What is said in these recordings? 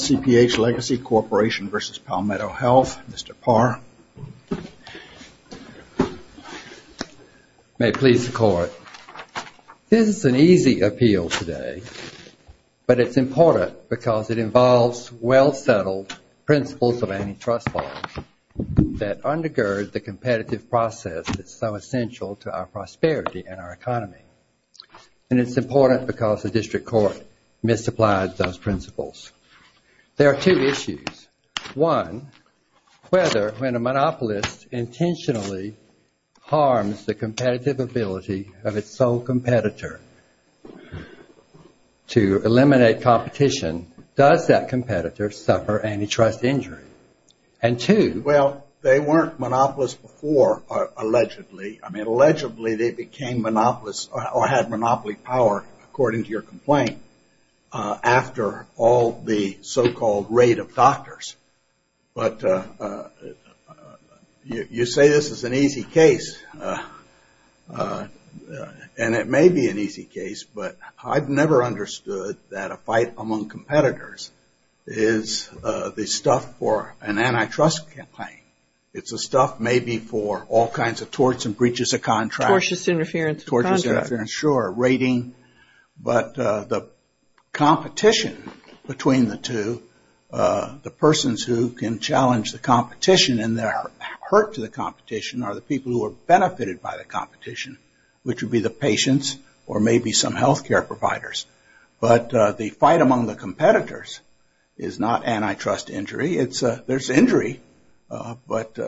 CPH Legacy Corporation v. Palmetto Health, Mr. Parr. May it please the Court. This is an easy appeal today, but it's important because it involves well-settled principles of antitrust law that undergird the competitive process that's so essential to our prosperity and our economy. And it's important because the District Court misapplies those principles. There are two issues. One, whether when a monopolist intentionally harms the competitive ability of its sole competitor to eliminate competition, does that competitor suffer antitrust injury? And two... Well, they weren't monopolists before, allegedly. I mean, allegedly they became monopolists or had monopoly power, according to your complaint, after all the so-called raid of doctors. But you say this is an easy case, and it may be an easy case, but I've never understood that a fight among competitors is the stuff for an antitrust campaign. It's the stuff maybe for all kinds of torts and breaches of contracts. Tortious interference of contracts. Sure, raiding. But the competition between the two, the persons who can challenge the competition and they're hurt to the competition are the people who are benefited by the competition, which would be the patients or maybe some health care providers. But the fight among the competitors is not antitrust injury. There's injury. But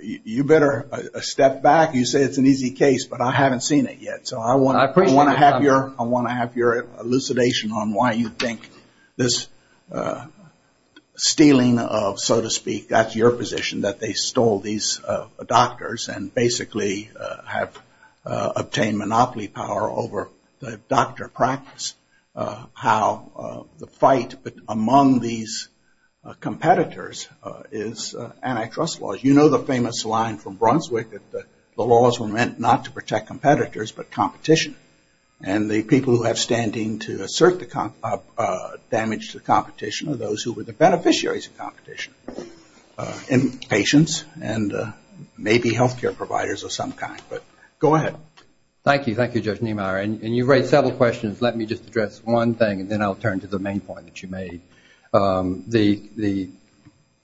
you better step back. You say it's an easy case, but I haven't seen it yet. So I want to have your elucidation on why you think this stealing of, so to speak, that's your position, that they stole these doctors and basically have obtained monopoly power over the doctor practice. How the fight among these competitors is antitrust laws. You know the famous line from Brunswick that the laws were meant not to protect competitors but competition. And the people who have standing to assert the damage to the competition are those who were the beneficiaries of competition. Patients and maybe health care providers of some kind. But go ahead. Thank you. Thank you, Judge Niemeyer. And you raised several questions. Let me just address one thing and then I'll turn to the main point that you made. The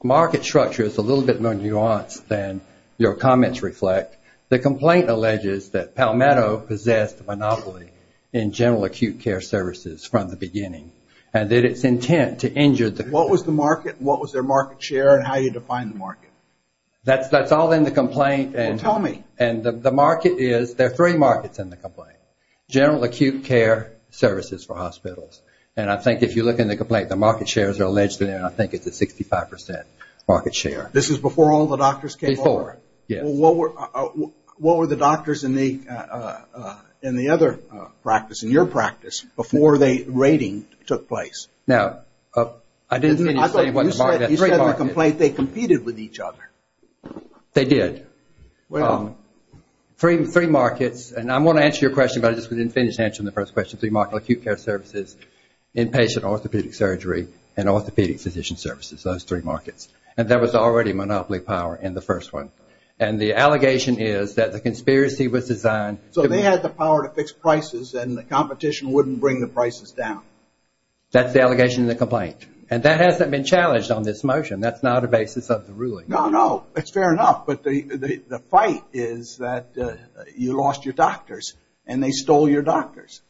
market structure is a little bit more nuanced than your comments reflect. The complaint alleges that Palmetto possessed monopoly in general acute care services from the beginning and that it's intent to injure the company. What was the market? What was their market share and how you define the market? That's all in the complaint. Well, tell me. And the market is, there are three markets in the complaint. General acute care services for hospitals. And I think if you look in the complaint, the market shares are allegedly, and I think it's a 65% market share. This is before all the doctors came over? Before, yes. What were the doctors in the other practice, in your practice, before the rating took place? Now, I didn't say it wasn't a market. You said in the complaint they competed with each other. They did. Well. Three markets, and I want to answer your question, but I just didn't finish answering the first question. Three markets are acute care services, inpatient orthopedic surgery, and orthopedic physician services. Those three markets. And there was already monopoly power in the first one. And the allegation is that the conspiracy was designed. So they had the power to fix prices, and the competition wouldn't bring the prices down. That's the allegation in the complaint. And that hasn't been challenged on this motion. That's not a basis of the ruling. No, no. It's fair enough. But the fight is that you lost your doctors, and they stole your doctors.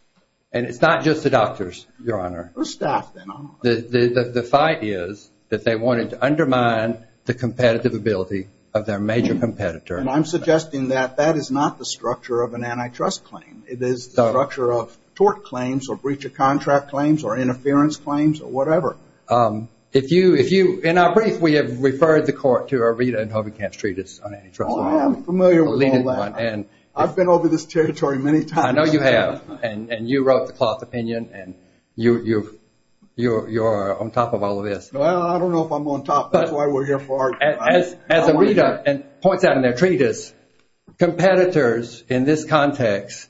And it's not just the doctors, Your Honor. Or staff, then. The fight is that they wanted to undermine the competitive ability of their major competitor. And I'm suggesting that that is not the structure of an antitrust claim. It is the structure of tort claims, or breach of contract claims, or interference claims, or whatever. If you – in our brief, we have referred the court to a Rita and Hobekamp's treatise on antitrust. Oh, I'm familiar with all that. I've been over this territory many times. I know you have. And you wrote the cloth opinion, and you're on top of all of this. Well, I don't know if I'm on top. That's why we're here for our time. As a Rita points out in their treatise, competitors in this context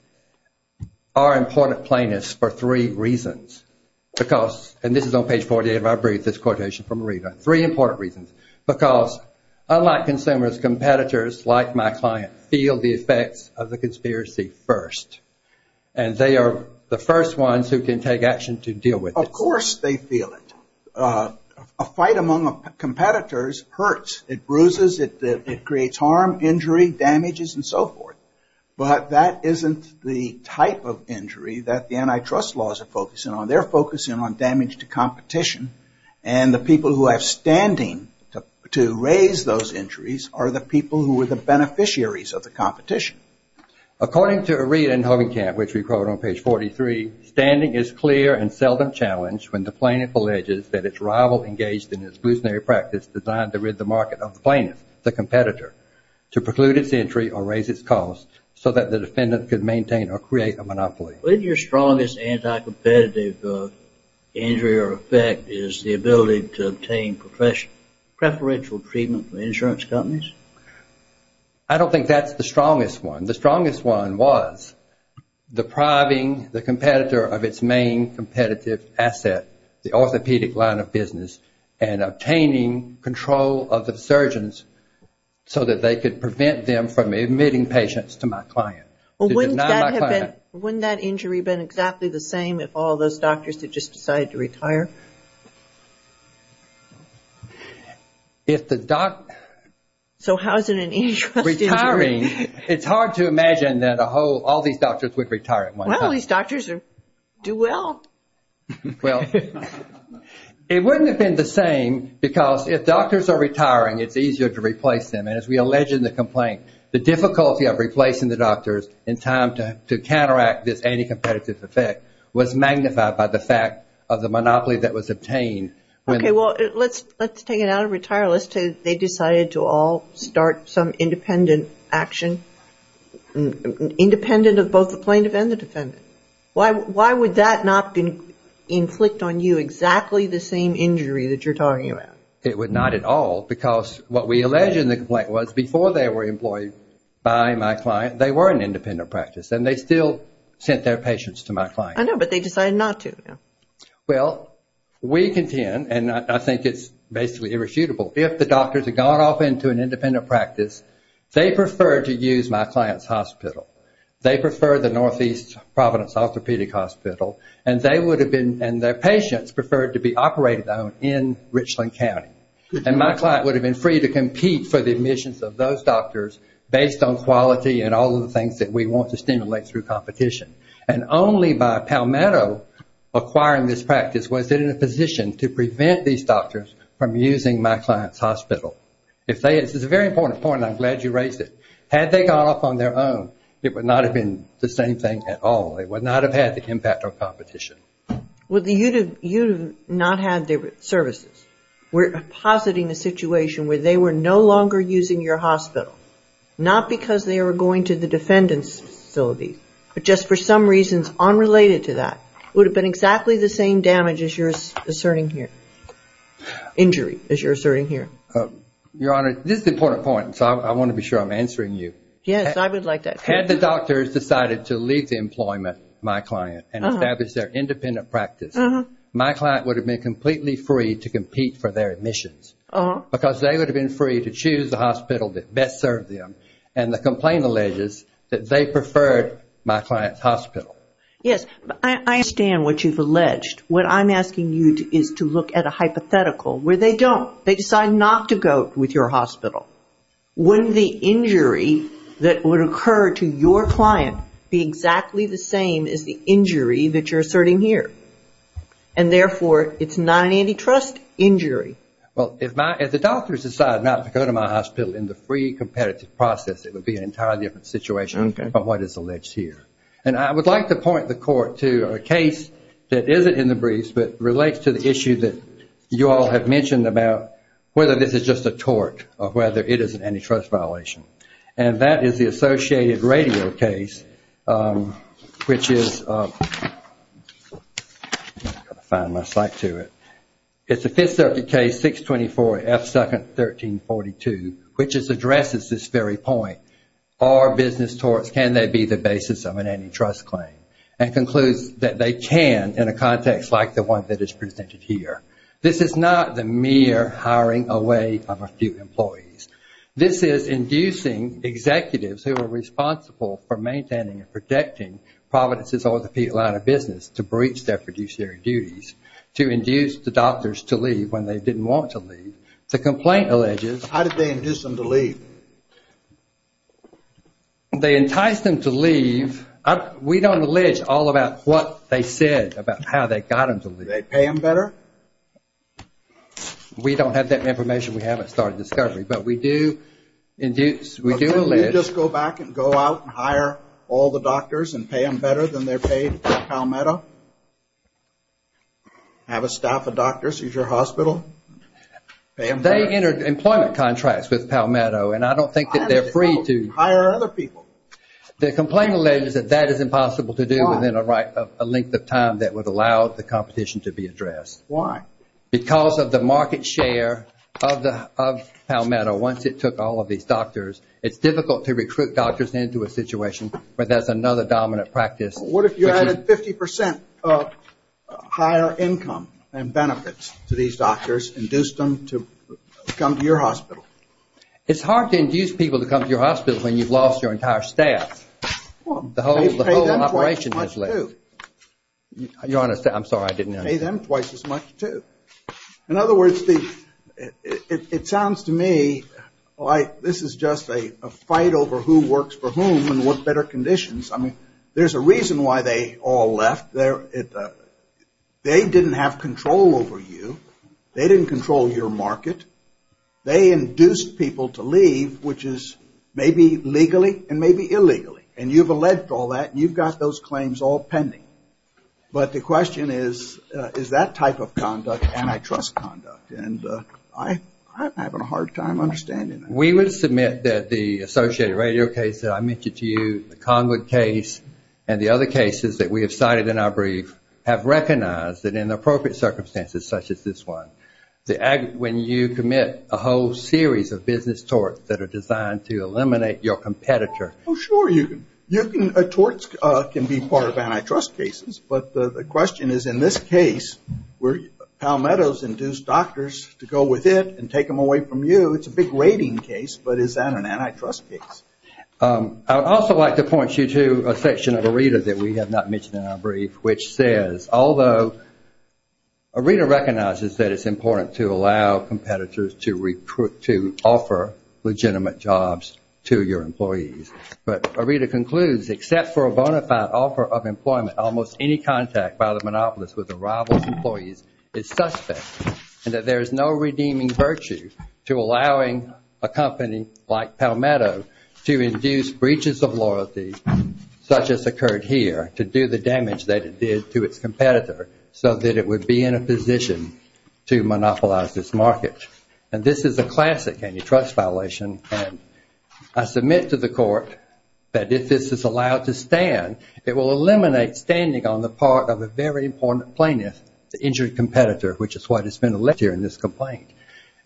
are important plaintiffs for three reasons. Because – and this is on page 48 of our brief, this quotation from Rita. Three important reasons. Because unlike consumers, competitors, like my client, feel the effects of the conspiracy first. And they are the first ones who can take action to deal with it. Of course they feel it. A fight among competitors hurts. It bruises, it creates harm, injury, damages, and so forth. But that isn't the type of injury that the antitrust laws are focusing on. They're focusing on damage to competition. And the people who have standing to raise those injuries are the people who are the beneficiaries of the competition. According to a Rita in Hovingkamp, which we quote on page 43, Isn't your strongest anti-competitive injury or effect is the ability to obtain preferential treatment from insurance companies? I don't think that's the strongest one. The strongest one was depriving the competitor of its main competitive asset, the orthopedic line of business, and obtaining control of the surgeons so that they could prevent them from admitting patients to my client. Well, wouldn't that injury have been exactly the same if all those doctors had just decided to retire? So how is it an antitrust injury? It's hard to imagine that all these doctors would retire at one time. Well, these doctors do well. Well, it wouldn't have been the same because if doctors are retiring, it's easier to replace them. And as we allege in the complaint, the difficulty of replacing the doctors in time to counteract this anti-competitive effect was magnified by the fact of the monopoly that was obtained. Okay, well, let's take it out of retire. Let's say they decided to all start some independent action, independent of both the plaintiff and the defendant. Why would that not inflict on you exactly the same injury that you're talking about? It would not at all because what we allege in the complaint was before they were employed by my client, they were an independent practice, and they still sent their patients to my client. I know, but they decided not to. Well, we contend, and I think it's basically irrefutable, if the doctors had gone off into an independent practice, they preferred to use my client's hospital. They preferred the Northeast Providence Orthopedic Hospital, and their patients preferred to be operated on in Richland County. And my client would have been free to compete for the admissions of those doctors based on quality and all of the things that we want to stimulate through competition. And only by Palmetto acquiring this practice was it in a position to prevent these doctors from using my client's hospital. It's a very important point, and I'm glad you raised it. Had they gone off on their own, it would not have been the same thing at all. It would not have had the impact of competition. Well, you would have not had the services. We're positing a situation where they were no longer using your hospital, not because they were going to the defendant's facility, but just for some reasons unrelated to that. It would have been exactly the same damage as you're asserting here. Injury, as you're asserting here. Your Honor, this is an important point, so I want to be sure I'm answering you. Yes, I would like that. Had the doctors decided to leave the employment of my client and establish their independent practice, my client would have been completely free to compete for their admissions because they would have been free to choose the hospital that best served them. And the complaint alleges that they preferred my client's hospital. Yes, I understand what you've alleged. What I'm asking you is to look at a hypothetical where they don't. They decide not to go with your hospital. Wouldn't the injury that would occur to your client be exactly the same as the injury that you're asserting here? And therefore, it's not an antitrust injury. Well, if the doctors decide not to go to my hospital in the free competitive process, it would be an entirely different situation from what is alleged here. And I would like to point the Court to a case that isn't in the briefs, but relates to the issue that you all have mentioned about whether this is just a tort or whether it is an antitrust violation. And that is the associated radio case, which is... It's a Fifth Circuit case, 624 F. 2nd, 1342, which addresses this very point. Are business torts, can they be the basis of an antitrust claim? And concludes that they can in a context like the one that is presented here. This is not the mere hiring away of a few employees. This is inducing executives who are responsible for maintaining and protecting Providence's orthopedic line of business to breach their fiduciary duties, to induce the doctors to leave when they didn't want to leave. The complaint alleges... How did they induce them to leave? They enticed them to leave. We don't allege all about what they said about how they got them to leave. Did they pay them better? We don't have that information. We haven't started discovery. But we do allege... You just go back and go out and hire all the doctors and pay them better than they're paid at Palmetto? Have a staff of doctors use your hospital? They entered employment contracts with Palmetto and I don't think that they're free to... Hire other people. The complaint alleges that that is impossible to do within a length of time that would allow the competition to be addressed. Why? Because of the market share of Palmetto once it took all of these doctors. It's difficult to recruit doctors into a situation where there's another dominant practice. What if you added 50% higher income and benefits to these doctors, induced them to come to your hospital? It's hard to induce people to come to your hospital when you've lost your entire staff. The whole operation has left. I'm sorry, I didn't understand. Pay them twice as much too. In other words, it sounds to me like this is just a fight over who works for whom and what better conditions. I mean, there's a reason why they all left. They didn't have control over you. They didn't control your market. They induced people to leave, which is maybe legally and maybe illegally. And you've alleged all that and you've got those claims all pending. But the question is, is that type of conduct antitrust conduct? And I'm having a hard time understanding that. We would submit that the associated radio case that I mentioned to you, the Conwood case and the other cases that we have cited in our brief, have recognized that in appropriate circumstances such as this one, when you commit a whole series of business torts that are designed to eliminate your competitor. Oh, sure. A tort can be part of antitrust cases. But the question is, in this case, where Palmetto's induced doctors to go with it and take them away from you, it's a big rating case, but is that an antitrust case? I would also like to point you to a section of ARETA that we have not mentioned in our brief, which says, although ARETA recognizes that it's important to allow competitors to offer legitimate jobs to your employees. But ARETA concludes, except for a bona fide offer of employment, almost any contact by the monopolist with the rival's employees is suspect, and that there is no redeeming virtue to allowing a company like Palmetto to induce breaches of loyalty, such as occurred here, to do the damage that it did to its competitor, so that it would be in a position to monopolize this market. And this is a classic antitrust violation, and I submit to the court that if this is allowed to stand, it will eliminate standing on the part of a very important plaintiff, the injured competitor, which is what has been alleged here in this complaint.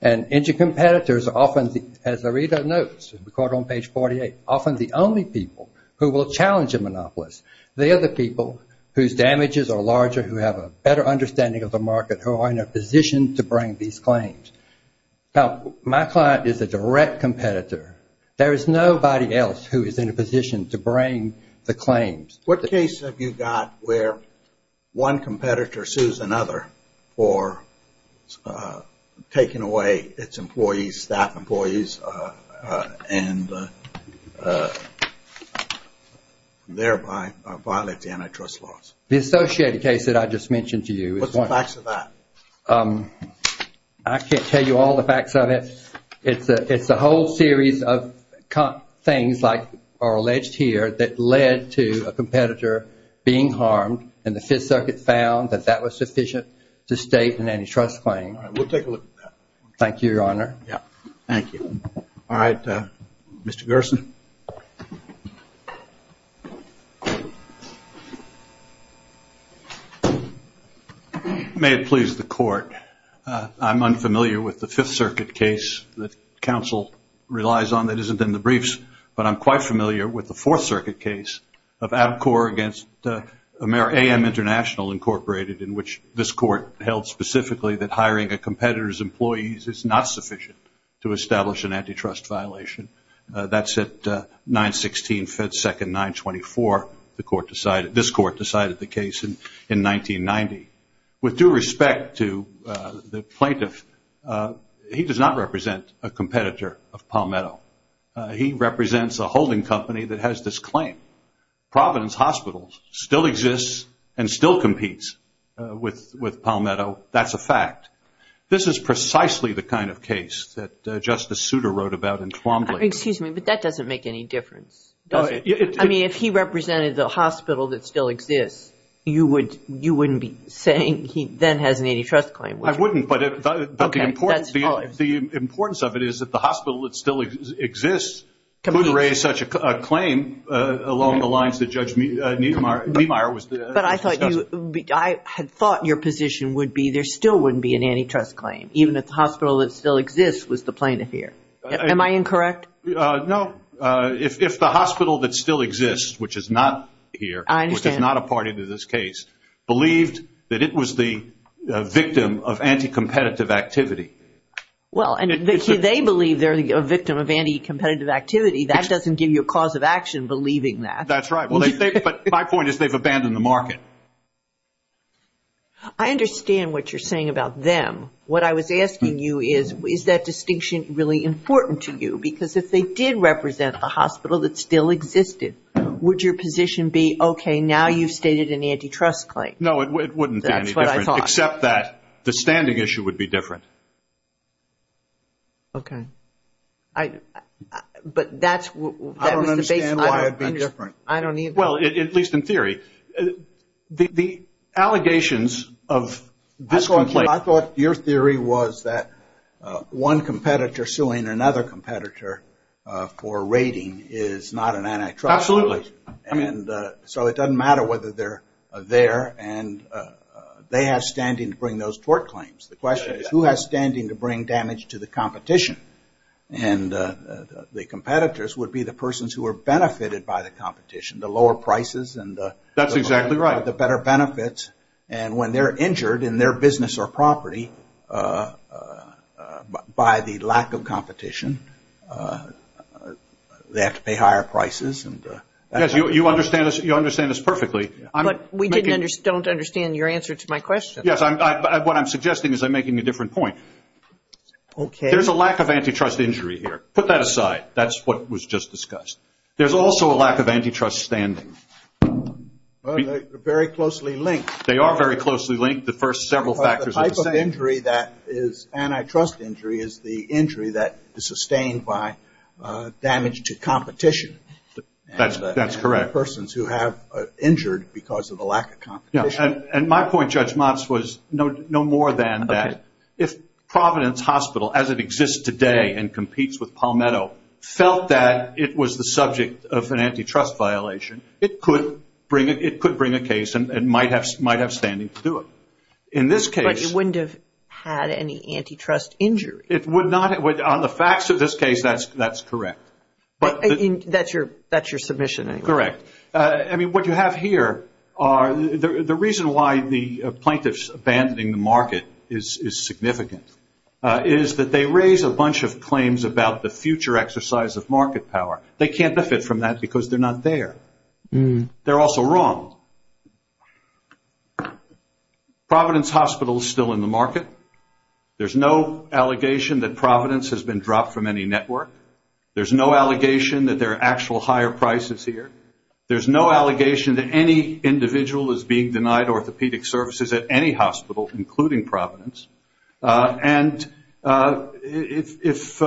And injured competitors are often, as ARETA notes, recorded on page 48, often the only people who will challenge a monopolist. They are the people whose damages are larger, who have a better understanding of the market, who are in a position to bring these claims. Now, my client is a direct competitor. There is nobody else who is in a position to bring the claims. What case have you got where one competitor sues another for taking away its employees, staff employees, and thereby violates antitrust laws? The associated case that I just mentioned to you. What's the facts of that? I can't tell you all the facts of it. It's a whole series of things like are alleged here that led to a competitor being harmed, and the Fifth Circuit found that that was sufficient to state an antitrust claim. All right. We'll take a look at that. Thank you, Your Honor. Yeah. Thank you. All right. Mr. Gerson. May it please the court. I'm unfamiliar with the Fifth Circuit case that counsel relies on that isn't in the briefs, but I'm quite familiar with the Fourth Circuit case of ABCOR against AM International, Incorporated, in which this court held specifically that hiring a competitor's employees is not sufficient to establish an antitrust violation. That's at 916 Fed Second 924. This court decided the case in 1990. With due respect to the plaintiff, he does not represent a competitor of Palmetto. He represents a holding company that has this claim. Providence Hospital still exists and still competes with Palmetto. That's a fact. This is precisely the kind of case that Justice Souter wrote about in Twombly. Excuse me, but that doesn't make any difference, does it? I mean, if he represented the hospital that still exists, you wouldn't be saying he then has an antitrust claim, would you? I wouldn't, but the importance of it is that the hospital that still exists could raise such a claim along the lines that Judge Niemeyer was discussing. But I had thought your position would be there still wouldn't be an antitrust claim, even if the hospital that still exists was the plaintiff here. Am I incorrect? No. If the hospital that still exists, which is not here, which is not a party to this case, believed that it was the victim of anti-competitive activity. Well, and they believe they're a victim of anti-competitive activity. That doesn't give you a cause of action believing that. That's right. But my point is they've abandoned the market. I understand what you're saying about them. What I was asking you is, is that distinction really important to you? Because if they did represent a hospital that still existed, would your position be, okay, now you've stated an antitrust claim? No, it wouldn't be any different. That's what I thought. Except that the standing issue would be different. Okay. But that's the basis. I don't understand why it would be different. I don't either. Well, at least in theory. The allegations of this complaint. I thought your theory was that one competitor suing another competitor for raiding is not an antitrust. Absolutely. And so it doesn't matter whether they're there. And they have standing to bring those tort claims. The question is who has standing to bring damage to the competition? And the competitors would be the persons who are benefited by the competition, the lower prices. That's exactly right. And the better benefits. And when they're injured in their business or property by the lack of competition, they have to pay higher prices. Yes, you understand this perfectly. But we don't understand your answer to my question. Yes, what I'm suggesting is I'm making a different point. Okay. There's a lack of antitrust injury here. Put that aside. That's what was just discussed. There's also a lack of antitrust standing. Well, they're very closely linked. They are very closely linked. The first several factors are the same. The type of injury that is antitrust injury is the injury that is sustained by damage to competition. That's correct. And the persons who have injured because of the lack of competition. And my point, Judge Motz, was no more than that. If Providence Hospital, as it exists today and competes with Palmetto, felt that it was the subject of an antitrust violation, it could bring a case and might have standing to do it. In this case. But it wouldn't have had any antitrust injury. It would not have. On the facts of this case, that's correct. That's your submission, anyway. Correct. I mean, what you have here are the reason why the plaintiffs abandoning the market is significant is that they raise a bunch of claims about the future exercise of market power. They can't benefit from that because they're not there. They're also wrong. Providence Hospital is still in the market. There's no allegation that Providence has been dropped from any network. There's no allegation that there are actual higher prices here. There's no allegation that any individual is being denied orthopedic services at any hospital, including Providence. And if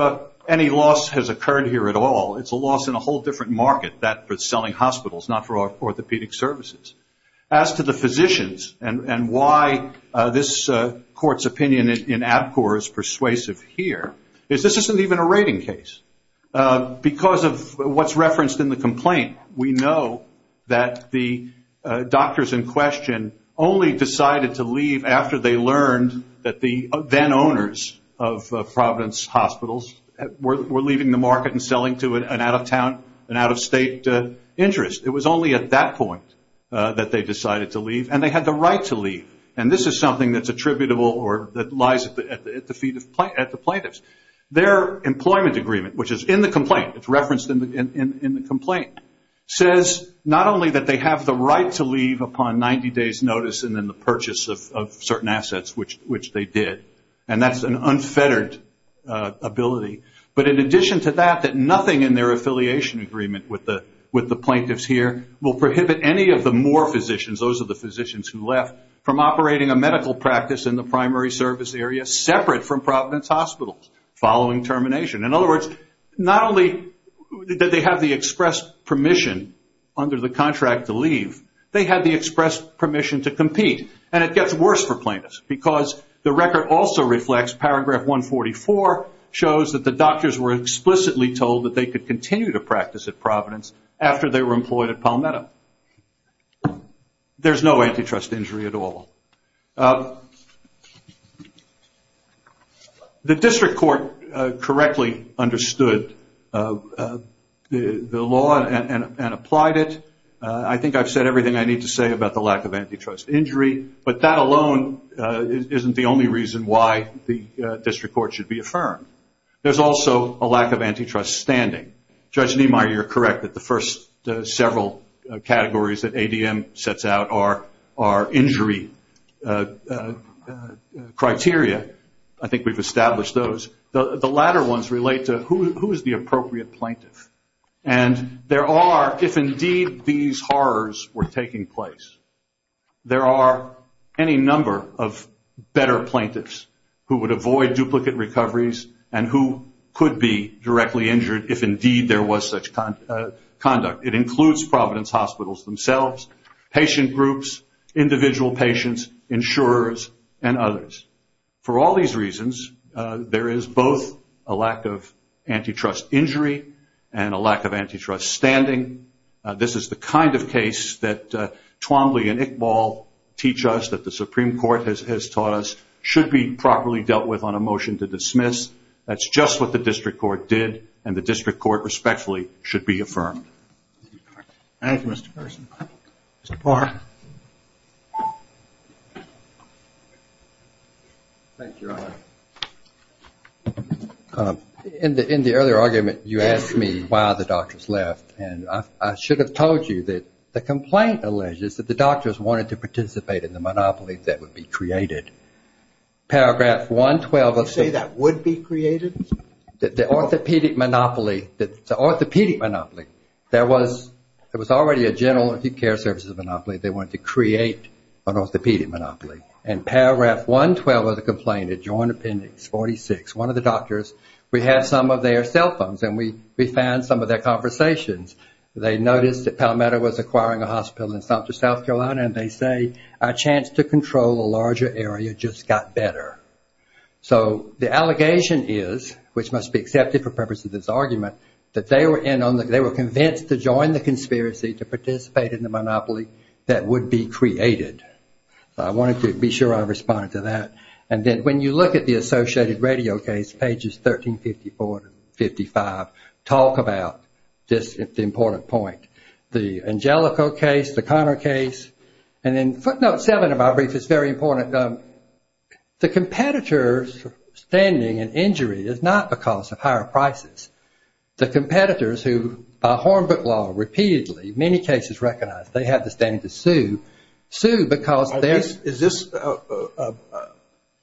any loss has occurred here at all, it's a loss in a whole different market. That's for selling hospitals, not for orthopedic services. As to the physicians and why this court's opinion in ABCOR is persuasive here is this isn't even a rating case. Because of what's referenced in the complaint, we know that the doctors in question only decided to leave after they learned that the then-owners of Providence Hospitals were leaving the market and selling to an out-of-town and out-of-state interest. It was only at that point that they decided to leave, and they had the right to leave. And this is something that's attributable or that lies at the feet of the plaintiffs. Their employment agreement, which is in the complaint, it's referenced in the complaint, says not only that they have the right to leave upon 90 days' notice and then the purchase of certain assets, which they did. And that's an unfettered ability. But in addition to that, that nothing in their affiliation agreement with the plaintiffs here will prohibit any of the more physicians, those are the physicians who left, from operating a medical practice in the primary service area separate from Providence Hospitals following termination. In other words, not only did they have the express permission under the contract to leave, they had the express permission to compete. And it gets worse for plaintiffs because the record also reflects paragraph 144, shows that the doctors were explicitly told that they could continue to practice at Providence after they were employed at Palmetto. There's no antitrust injury at all. The district court correctly understood the law and applied it. I think I've said everything I need to say about the lack of antitrust injury, but that alone isn't the only reason why the district court should be affirmed. There's also a lack of antitrust standing. Judge Niemeyer, you're correct that the first several categories that ADM sets out are injury criteria. I think we've established those. The latter ones relate to who is the appropriate plaintiff. And there are, if indeed these horrors were taking place, there are any number of better plaintiffs who would avoid duplicate recoveries and who could be directly injured if indeed there was such conduct. It includes Providence Hospitals themselves, patient groups, individual patients, insurers, and others. For all these reasons, there is both a lack of antitrust injury and a lack of antitrust standing. This is the kind of case that Twombly and Iqbal teach us, that the Supreme Court has taught us, should be properly dealt with on a motion to dismiss. That's just what the district court did, and the district court respectfully should be affirmed. Thank you, Mr. Pearson. Thank you, Your Honor. In the earlier argument, you asked me why the doctors left. And I should have told you that the complaint alleges that the doctors wanted to participate in the monopoly that would be created. Paragraph 112 of the- You say that would be created? The orthopedic monopoly, the orthopedic monopoly. There was already a general acute care services monopoly. They wanted to create an orthopedic monopoly. And Paragraph 112 of the complaint, Adjoined Appendix 46, one of the doctors, we had some of their cell phones and we found some of their conversations. They noticed that Palmetto was acquiring a hospital in Sumter, South Carolina, and they say, our chance to control a larger area just got better. So the allegation is, which must be accepted for purposes of this argument, that they were convinced to join the conspiracy to participate in the monopoly that would be created. So I wanted to be sure I responded to that. And then when you look at the associated radio case, Pages 1354 and 1355, talk about this important point. The Angelico case, the Conner case. And then footnote seven of my brief is very important. The competitor's standing in injury is not because of higher prices. The competitors who, by Hornbutt law, repeatedly, many cases recognize they have the standing to sue, because there's... Is this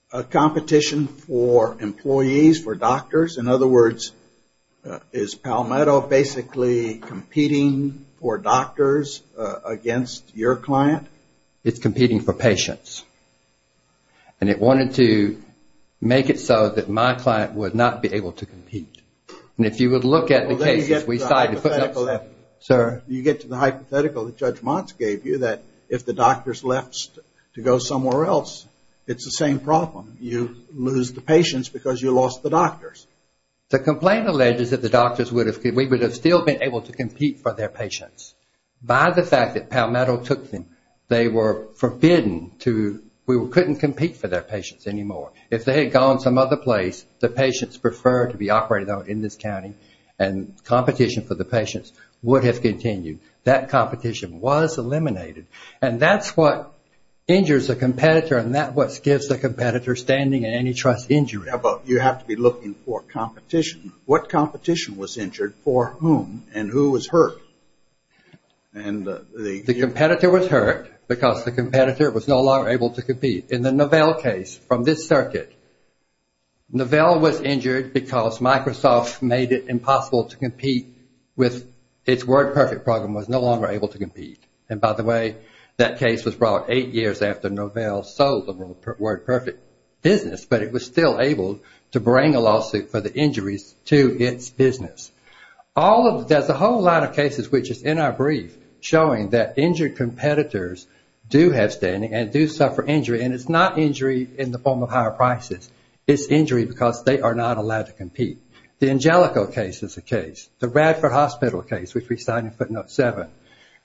a competition for employees, for doctors? In other words, is Palmetto basically competing for doctors against your client? It's competing for patients. And it wanted to make it so that my client would not be able to compete. And if you would look at the case... You get to the hypothetical that Judge Montz gave you, that if the doctors left to go somewhere else, it's the same problem. You lose the patients because you lost the doctors. The complaint alleged is that the doctors would have... We would have still been able to compete for their patients. By the fact that Palmetto took them, they were forbidden to... We couldn't compete for their patients anymore. If they had gone some other place, the patients preferred to be operated on in this county, and competition for the patients would have continued. That competition was eliminated. And that's what injures a competitor, and that's what gives the competitor standing and antitrust injury. You have to be looking for competition. What competition was injured for whom, and who was hurt? The competitor was hurt because the competitor was no longer able to compete. In the Novell case, from this circuit, Novell was injured because Microsoft made it impossible to compete with... Its WordPerfect program was no longer able to compete. And by the way, that case was brought eight years after Novell sold the WordPerfect business, but it was still able to bring a lawsuit for the injuries to its business. There's a whole lot of cases, which is in our brief, showing that injured competitors do have standing and do suffer injury, and it's not injury in the form of higher prices. It's injury because they are not allowed to compete. The Angelico case is a case. The Radford Hospital case, which we cite in footnote seven,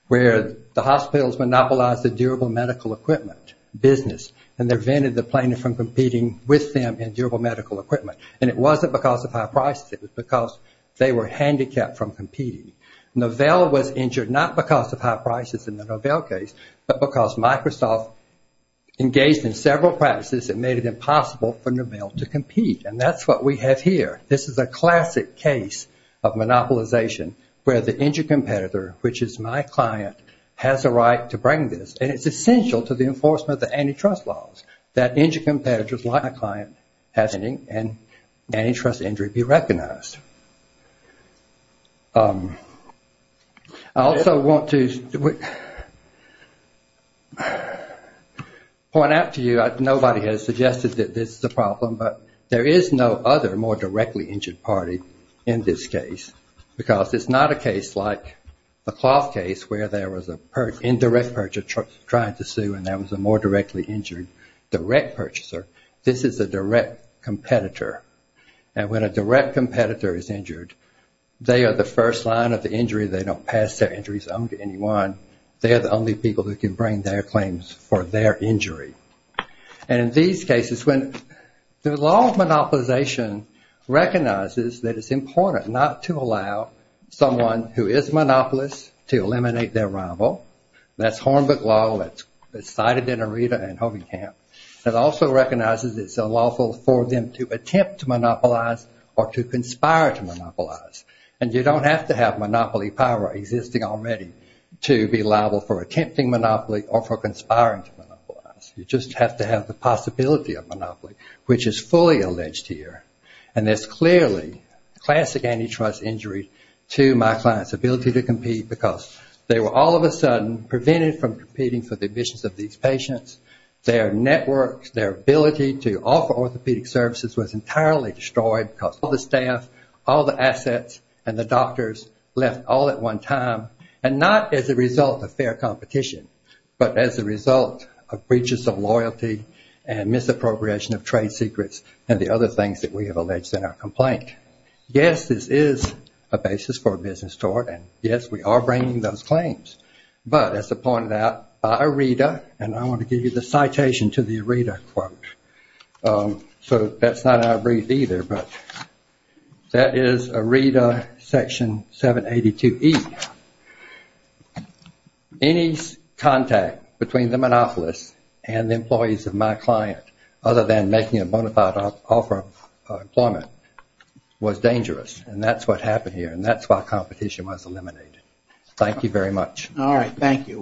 where the hospitals monopolized the durable medical equipment business, and they prevented the plaintiff from competing with them in durable medical equipment. And it wasn't because of high prices. It was because they were handicapped from competing. Novell was injured not because of high prices in the Novell case, but because Microsoft engaged in several practices that made it impossible for Novell to compete. And that's what we have here. This is a classic case of monopolization where the injured competitor, which is my client, has a right to bring this. And it's essential to the enforcement of the antitrust laws, that injured competitors like my client have standing and antitrust injury be recognized. I also want to point out to you, nobody has suggested that this is a problem, but there is no other more directly injured party in this case, because it's not a case like the Cloth case, where there was an indirect purchaser trying to sue, and there was a more directly injured direct purchaser. This is a direct competitor. And when a direct competitor is injured, they are the first line of the injury. They don't pass their injuries on to anyone. They are the only people who can bring their claims for their injury. And in these cases, when the law of monopolization recognizes that it's important not to allow someone who is monopolist to eliminate their rival, that's Hornbeck Law, that's cited in Aretha and Hovey Camp, that also recognizes it's unlawful for them to attempt to monopolize or to conspire to monopolize. And you don't have to have monopoly power existing already to be liable for attempting monopoly or for conspiring to monopolize. You just have to have the possibility of monopoly, which is fully alleged here. And there's clearly classic antitrust injury to my client's ability to compete, because they were all of a sudden prevented from competing for the admissions of these patients. Their networks, their ability to offer orthopedic services was entirely destroyed because all the staff, all the assets, and the doctors left all at one time, and not as a result of fair competition, but as a result of breaches of loyalty and misappropriation of trade secrets and the other things that we have alleged in our complaint. Yes, this is a basis for a business tort, and yes, we are bringing those claims. But, as I pointed out, by ARIDA, and I want to give you the citation to the ARIDA quote. So that's not ARIDA either, but that is ARIDA Section 782E. Any contact between the monopolist and the employees of my client, other than making a bona fide offer of employment, was dangerous, and that's what happened here, and that's why competition was eliminated. Thank you very much. All right. Thank you.